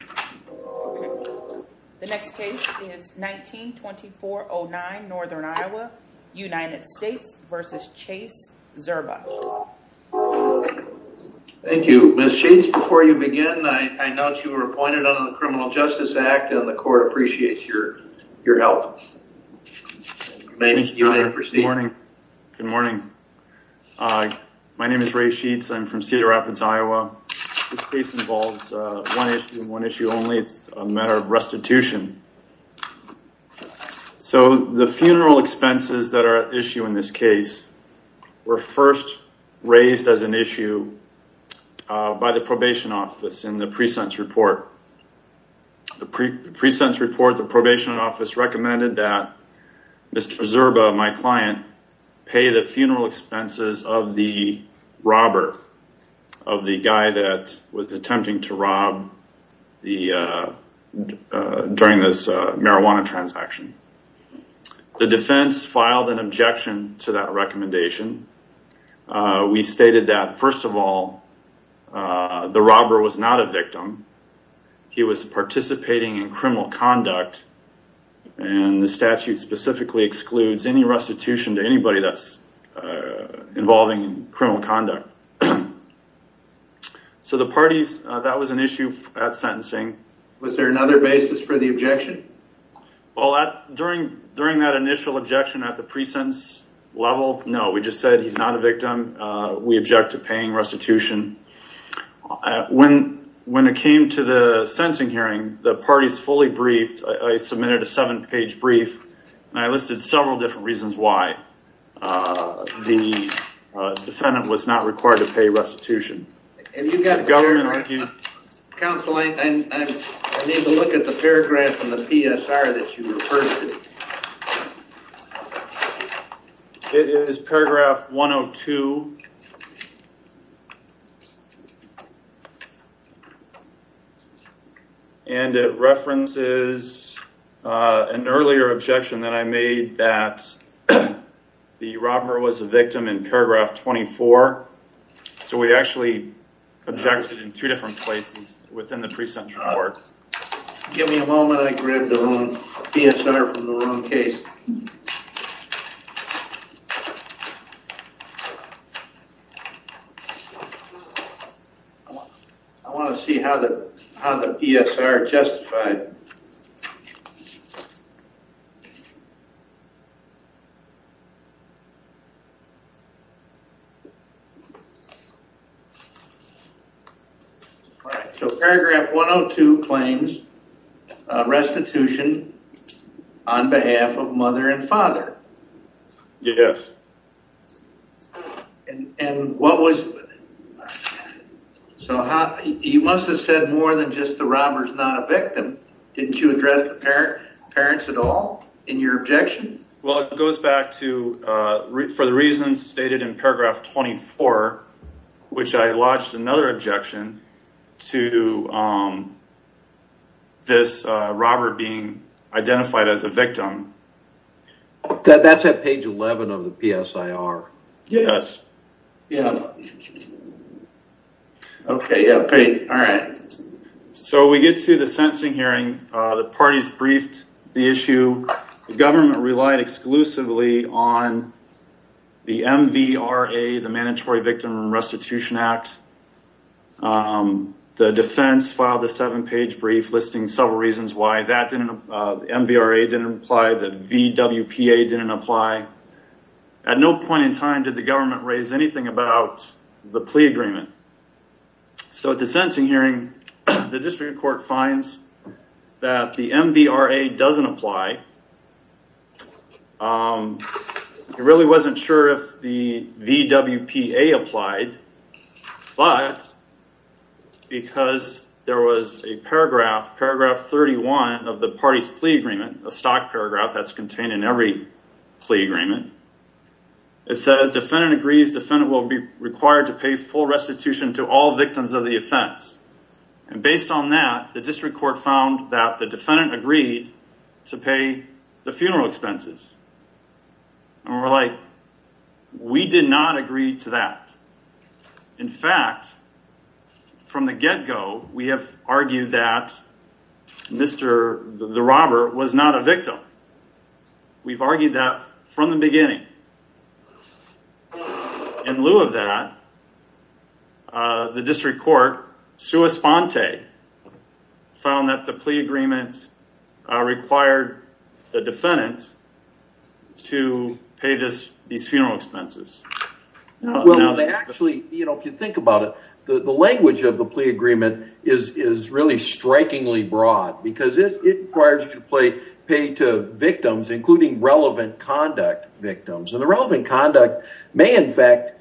The next case is 19-2409 Northern Iowa United States v. Chase Zerba. Thank you. Ms. Sheets, before you begin, I note you were appointed under the Criminal Justice Act and the court appreciates your your help. Good morning, good morning. My name is Ray Sheets. I'm from Cedar Rapids, Iowa. This case involves one issue only. It's a matter of restitution. So the funeral expenses that are at issue in this case were first raised as an issue by the probation office in the pre-sentence report. The pre-sentence report, the probation office recommended that Mr. Zerba, my client, pay the funeral expenses of the robber, of the guy that was attempting to rob during this marijuana transaction. The defense filed an objection to that recommendation. We stated that, first of all, the robber was not a victim. He was participating in criminal conduct and the statute specifically excludes any restitution to anybody that's involving criminal conduct. So the parties, that was an issue at sentencing. Was there another basis for the objection? Well, during that initial objection at the pre-sentence level, no. We just said he's not a victim. We object to paying restitution. When it came to the sentencing hearing, the parties fully briefed. I submitted a seven-page brief and I listed several different reasons why the defendant was not required to pay restitution. Counsel, I need to look at the paragraph in the PSR that you referred to. It is paragraph 102 and it states that the robber was a victim in paragraph 24. So we actually objected in two different places within the pre-sentence report. Give me a moment, I grabbed the PSR from the wrong case. I want to see how the PSR justified. So paragraph 102 claims restitution on behalf of mother and father. Yes. And what was, so he must have said more than just the robber's not a victim. Didn't you address the parents at all in your objection? Well, it goes back to, for the reasons stated in paragraph 24, which I lodged another objection to this robber being identified as a victim. That's at page 11 of the PSIR. Yes. Okay, all right. So we get to the sentencing hearing. The parties briefed the issue. The government relied exclusively on the MVRA, the mandatory victim restitution act. The defense filed a seven-page brief listing several reasons why the MVRA didn't apply, the VWPA didn't apply. At no point in time did the government raise anything about the plea agreement. So at the sentencing hearing, the district court finds that the MVRA doesn't apply. It really wasn't sure if the VWPA applied, but because there was a paragraph, paragraph 31 of the parties plea agreement, a stock paragraph that's contained in every plea agreement, it says defendant agrees defendant will be required to pay full restitution to all victims of the offense. And based on that, the district court found that the defendant agreed to pay the funeral expenses. And we're like, we did not agree to that. In fact, from the get-go, we have argued that the robber was not a victim. We've argued that from the beginning. In lieu of that, the district court, sua sponte, found that the plea agreement required the defendant to pay these funeral expenses. Well, they actually, you know, if you think about it, the language of the plea agreement is really strikingly broad because it requires you to pay to victims, including relevant conduct victims. And the relevant conduct may in fact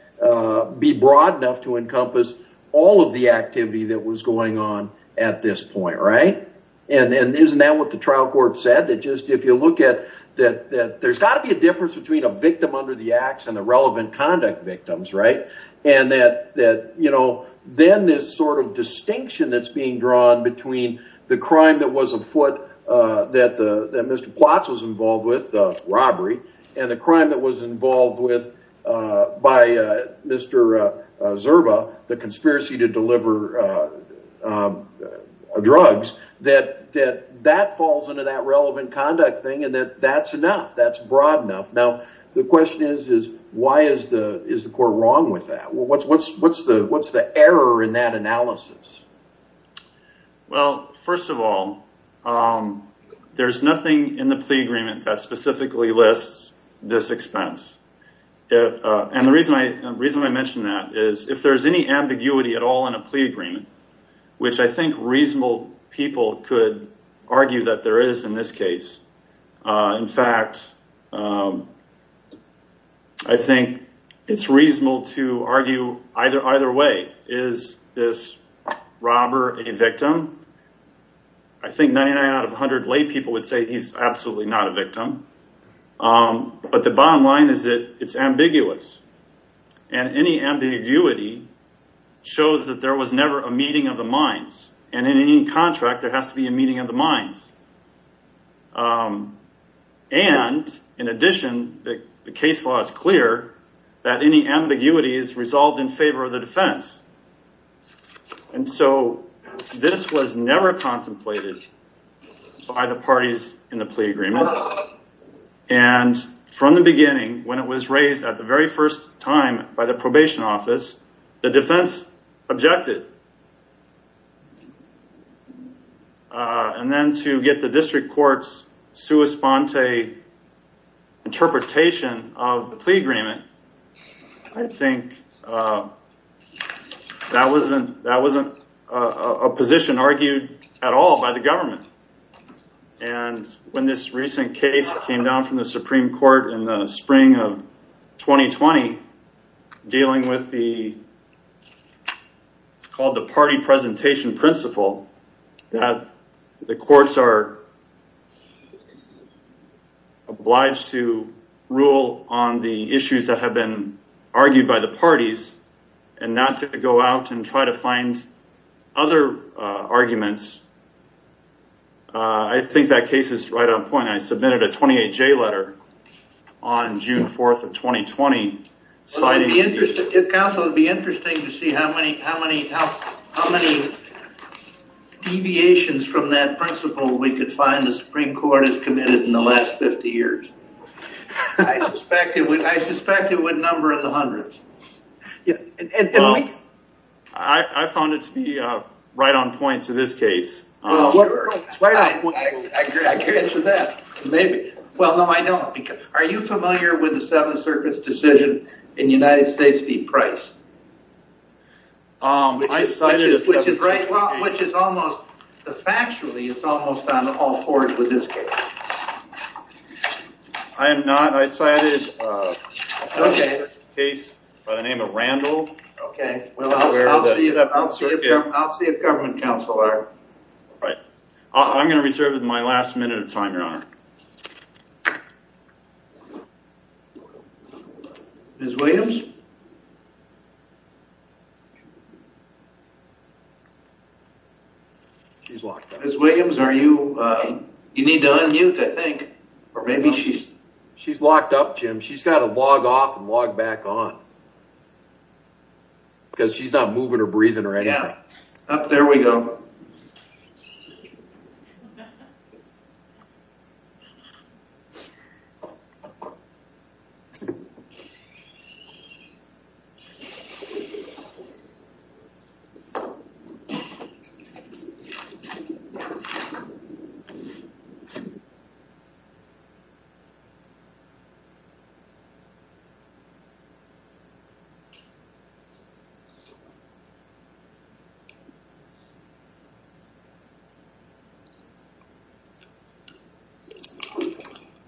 be broad enough to encompass all of the activity that was going on at this point, right? And isn't that what the trial court said? That just if you look at that, that there's got to be a difference between a victim under the ax and the relevant conduct victims, right? And that, that, you know, then this sort of distinction that's being drawn between the crime that was afoot that Mr. Plotz was involved with, the robbery, and the crime that was involved with by Mr. Zerba, the conspiracy to deliver drugs, that that falls into that relevant conduct thing and that that's enough. That's broad enough. Now, the question is, is why is the court wrong with that? What's the error in that analysis? Well, first of all, there's nothing in the plea agreement that specifically lists this expense. And the reason I mentioned that is if there's any ambiguity at all in a plea agreement, which I think reasonable people could argue that there is in this case. In this case, is this robber a victim? I think 99 out of a hundred lay people would say he's absolutely not a victim. But the bottom line is that it's ambiguous and any ambiguity shows that there was never a meeting of the minds and in any contract, there has to be a meeting of the minds. And in addition, the case law is clear that any ambiguity is resolved in the defense. And so this was never contemplated by the parties in the plea agreement. And from the beginning, when it was raised at the very first time by the probation office, the defense objected. And then to get the district court's sua sponte interpretation of the plea agreement, I think that wasn't a position argued at all by the government. And when this recent case came down from the Supreme Court in the spring of 2020, dealing with the it's called the party presentation principle that the courts are obliged to rule on the issues that have been argued by the parties and not to go out and try to find other arguments, I think that case is right on point. I submitted a 28J letter on June 1st. It would be interesting to see how many deviations from that principle we could find the Supreme Court has committed in the last 50 years. I suspect it would number in the hundreds. I found it to be right on point to this case. I can answer that. Maybe. Well, no, I don't. Are you familiar with the Seventh Circuit's decision in the United States v. Price? I cited a case by the name of Randall. Okay. I'll see if government counsel are. I'm going to reserve my last minute of time, if they are. Ms. Williams? She's locked up. Ms. Williams, you need to unmute, I think. She's locked up, Jim. She's got to log off and log back on. Because she's not moving or breathing right now. Up there we go.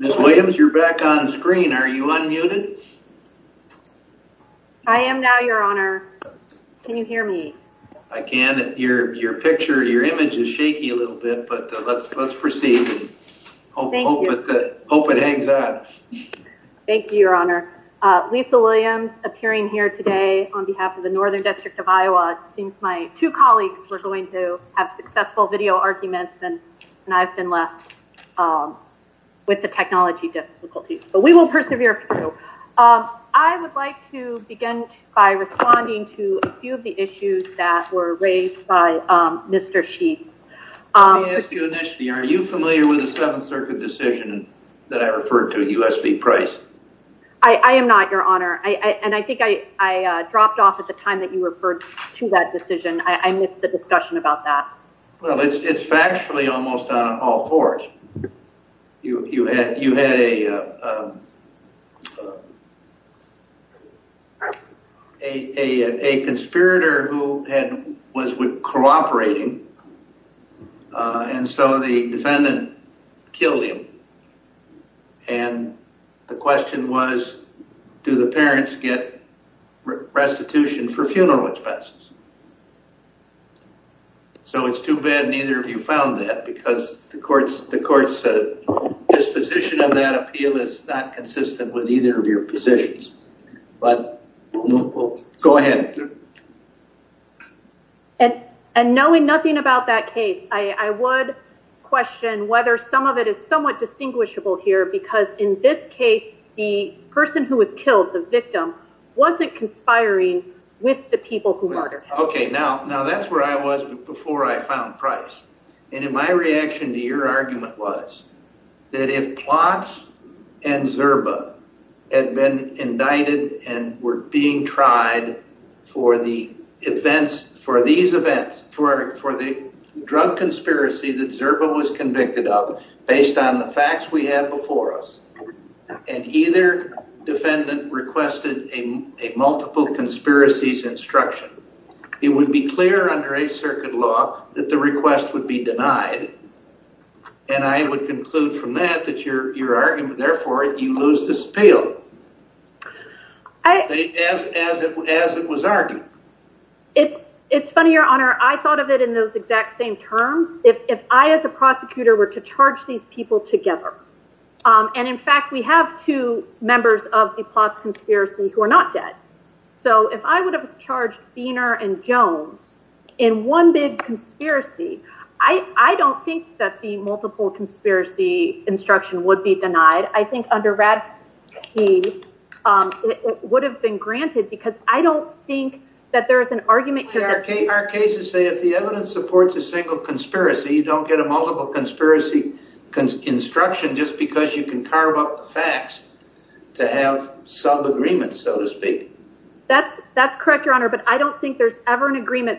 Ms. Williams, you're back on screen. Are you unmuted? I am now, Your Honor. Can you hear me? I can. Your picture, your image is shaky a little bit, but let's proceed. Thank you. Hope it hangs on. Thank you, Your Honor. Lisa Williams, appearing here today on behalf of the Northern District of Iowa, thinks my two colleagues were going to have successful video arguments, and I've been left with the technology difficulties. But we will persevere through. I would like to begin by responding to a few of the issues that were raised by Mr. Sheets. Let me ask you initially, are you familiar with the Seventh Circuit decision that I referred to in U.S. v. Price? I am not, Your Honor. And I think I dropped off at the time that you referred to that discussion about that. Well, it's factually almost on all fours. You had a conspirator who was cooperating, and so the defendant killed him. And the question was, do the parents get restitution for funeral expenses? So it's too bad neither of you found that, because the court's disposition of that appeal is not consistent with either of your positions. But go ahead. And knowing nothing about that case, I would question whether some of it is somewhat distinguishable here, because in this case the person who was killed, the victim, wasn't conspiring with the people who murdered him. Okay. Now, that's where I was before I found Price. And my reaction to your argument was that if Plotz and Zerba had been indicted and were being tried for the events, for these events, for the drug conspiracy that Zerba was convicted of, based on the facts we had before us, and either defendant requested a multiple conspiracies instruction, it would be clear under Eighth Circuit law that the request would be denied. And I would conclude from that that your argument, therefore, you lose this appeal. As it was argued. It's funny, Your Honor. I thought of it in those exact same terms if I, as a prosecutor, were to charge these people together. And, in fact, we have two members of the Plotz conspiracy who are not dead. So if I would have charged Biener and Jones in one big conspiracy, I don't think that the multiple conspiracy instruction would be denied. I think under RADP it would have been granted, because I don't think there's ever an agreement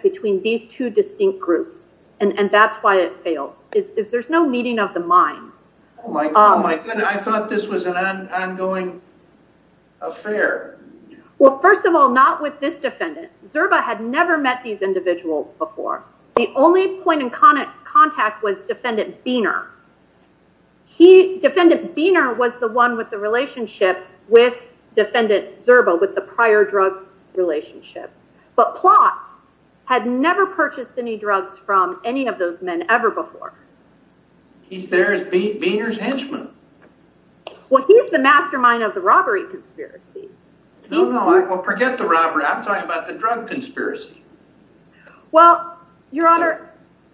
between these two distinct groups. And that's why it fails. There's no meeting of the minds. I thought this was an ongoing affair. Well, first of all, not with this defendant. Zerba had never met these individuals before. The only point in contact was defendant Biener. He, defendant Biener was the one with the relationship with defendant Zerba, with the prior drug relationship. But Plotz had never purchased any drugs from any of those men ever before. He's there as Biener's henchman. Well, he's the mastermind of the robbery. I'm talking about the drug conspiracy.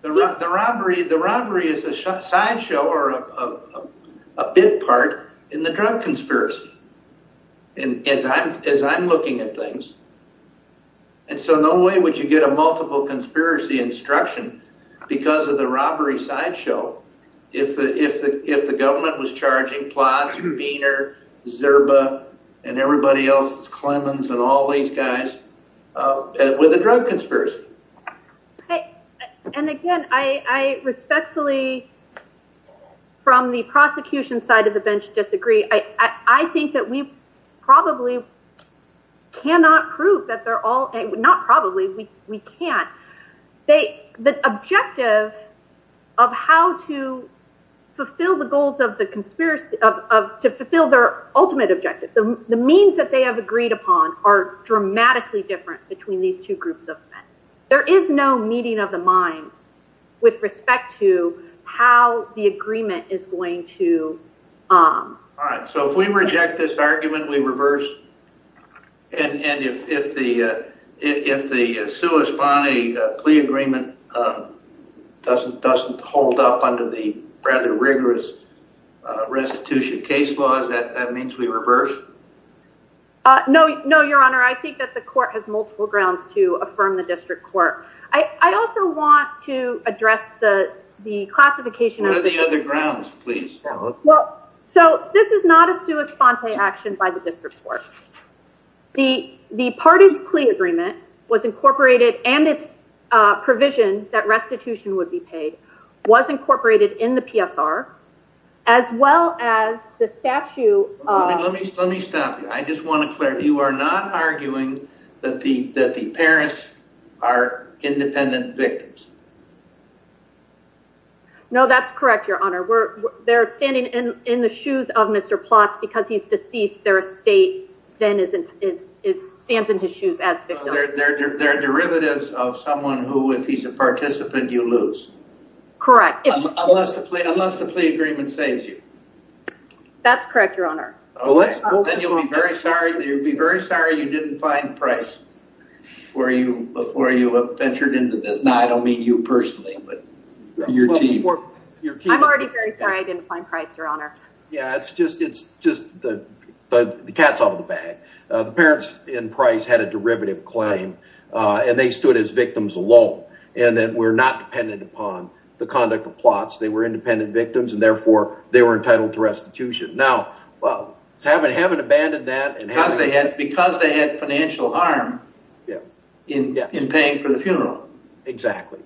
The robbery is a sideshow or a bit part in the drug conspiracy, as I'm looking at things. And so no way would you get a multiple conspiracy instruction because of the robbery sideshow if the government was charging Plotz, Biener, Zerba, and everybody else, Clemens, and all these guys with a drug conspiracy. And again, I respectfully, from the prosecution side of the bench, disagree. I think that we probably cannot prove that they're all, not probably, we can't. The objective of how to fulfill the goals of the conspiracy, to fulfill their ultimate objective, the means that they have agreed upon, are dramatically different between these two groups of men. There is no meeting of the minds with respect to how the agreement is going to... All right, so if we reject this argument, we reverse? And if the sui spani plea agreement doesn't hold up under the rather rigorous restitution case laws, that means we reverse? No, your honor. I think that the court has multiple grounds to affirm the district court. I also want to address the classification of... What are the other grounds, please? Well, so this is not a sui spante action by the district court. The parties plea agreement was incorporated, and its provision that restitution would be paid, was incorporated in the PSR, as well as the statute of... Let me stop you. I just want to clarify. You are not arguing that the Paris are independent victims? No, that's correct, your honor. They're standing in the shoes of Mr. Plotz because he's deceased. Their estate then stands in his shoes as victims. They're derivatives of someone who, if he's a participant, you lose. Correct. Unless the plea agreement saves you. That's correct, your honor. Then you'll be very sorry you didn't find Price before you ventured into this. Now, I don't mean you personally, but your team. I'm already very sorry I didn't find Price, your honor. Yeah, it's just the cat's out of the bag. The parents in Price had a derivative claim, and they stood as victims alone, and were not dependent upon the conduct of Plotz. They were independent victims, and therefore, they were entitled to restitution. Now, having abandoned that... Because they had financial harm in paying for the funeral. Exactly.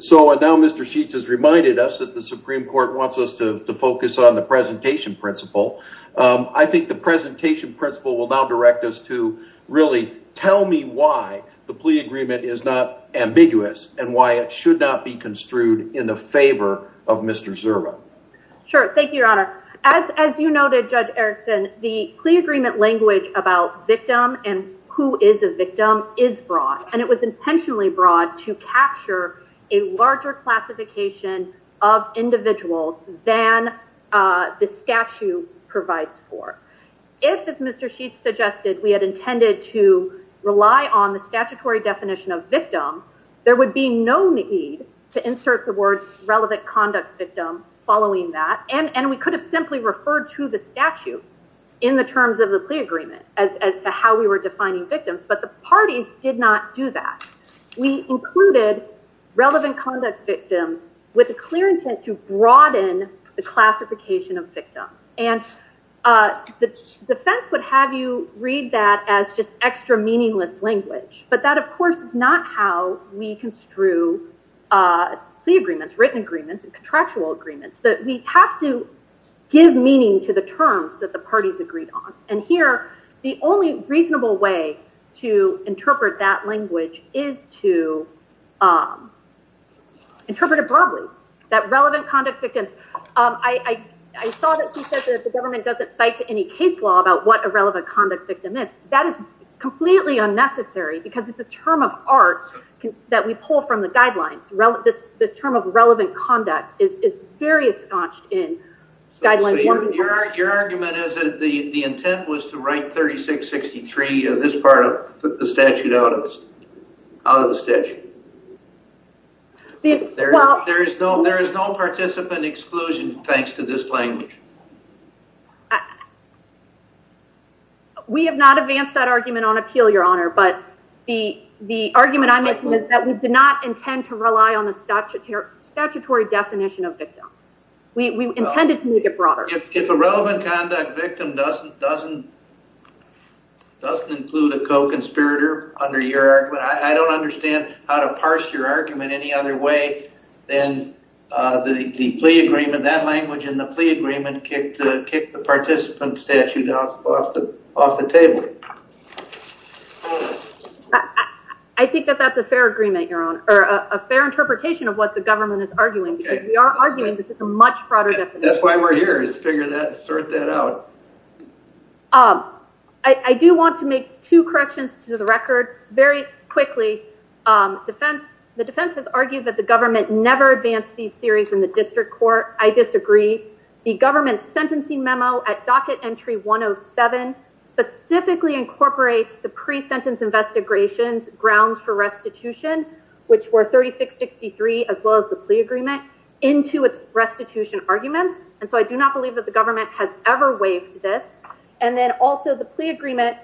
So now Mr. Sheets has reminded us that the Supreme Court wants us to focus on the presentation principle. I think the presentation principle will now direct us to really tell me why the plea agreement is not ambiguous, and why it should not be construed in the favor of Mr. Zerva. Sure. Thank you, your honor. As you noted, Judge Erickson, the plea agreement language about victim and who is a victim is broad, and it was intentionally broad to capture a larger classification of individuals than the statute provides for. If, as Mr. Sheets suggested, we had intended to rely on the statutory definition of victim, there would be no need to insert the words relevant conduct victim following that, and we could have simply referred to the statute in the terms of the plea agreement as to how we were defining victims, but the parties did not do that. We included relevant conduct victims with a clear intent to broaden the classification of victims, and the defense would have you read that as just extra meaningless language, but that, of course, is not how we construe plea agreements, written agreements, and contractual agreements. We have to give meaning to the terms that the parties agreed on, and here, the only reasonable way to interpret that language is to interpret it broadly, that relevant conduct victims. I saw that he said that the government doesn't cite any case law about what a relevant conduct victim is. That is completely unnecessary because it's a term of art that we pull from the guidelines. This term of relevant conduct is very ensconced in guidelines. Your argument is that the intent was to write 3663, this part of the statute, out of the statute. There is no participant exclusion thanks to this language. We have not advanced that argument on appeal, Your Honor, but the argument I'm making is that we did not intend to rely on the statutory definition of victim. We intended to make it broader. If a relevant conduct victim doesn't include a co-conspirator under your argument, I don't understand how to parse your argument any other way than the plea agreement, that language in the plea agreement kicked the participant statute off the table. I think that that's a fair agreement, Your Honor, or a fair interpretation of what the government is arguing because we are arguing that this is a much broader definition. That's why we're here is to figure that, sort that out. I do want to make two corrections to the record very quickly. The defense has argued that the government never advanced these theories in the district court. I disagree. The government sentencing memo at docket entry 107 specifically incorporates the pre-sentence investigations grounds for restitution, which were 3663, as well as the plea agreement, into its restitution arguments. And so I do not believe that the government has ever waived this. And then also the plea agreement,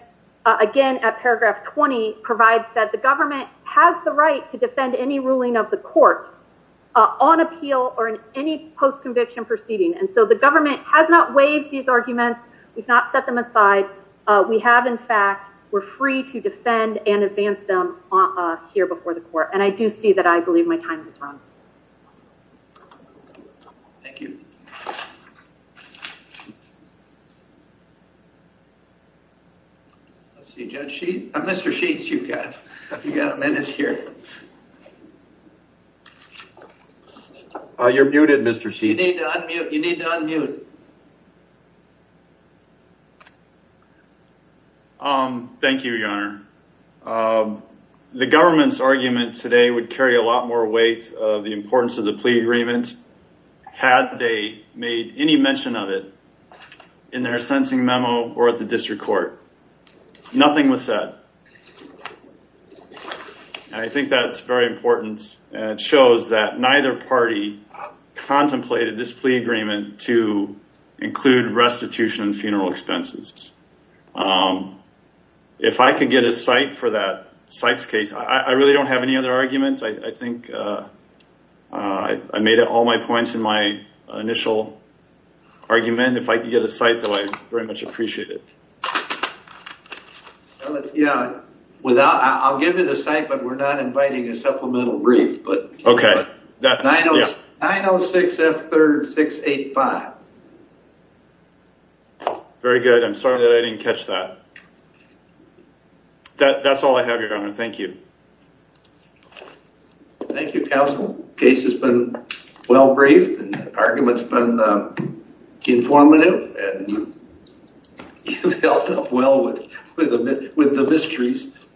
again, at paragraph 20, provides that the government has the right to defend any ruling of the court on appeal or in any post-conviction proceeding. And so the government has not waived these arguments. We've not set them aside. We have, in fact, we're free to defend and advance them here before the court. And I do see that. I believe my time is run. Thank you. Mr. Sheets, you've got a minute here. You're muted, Mr. Sheets. You need to unmute. Thank you, Your Honor. The government's argument today would carry a lot more weight of the importance of the plea agreement. Had they made any mention of it in their sentencing memo or at the district court, nothing was said. I think that's very important. It shows that neither party contemplated this plea agreement to include restitution and funeral expenses. If I could get a cite for that, Cite's case, I really don't have any other arguments. I think I made all my points in my initial argument. If I could get a cite, though, I'd very much appreciate it. I'll give you the cite, but we're not inviting a supplemental brief. Okay. 906F3-685. Very good. I'm sorry that I didn't catch that. That's all I have, Your Honor. Thank you. Thank you, counsel. Case has been well briefed. Argument's been informative. And you've dealt well with the mysteries.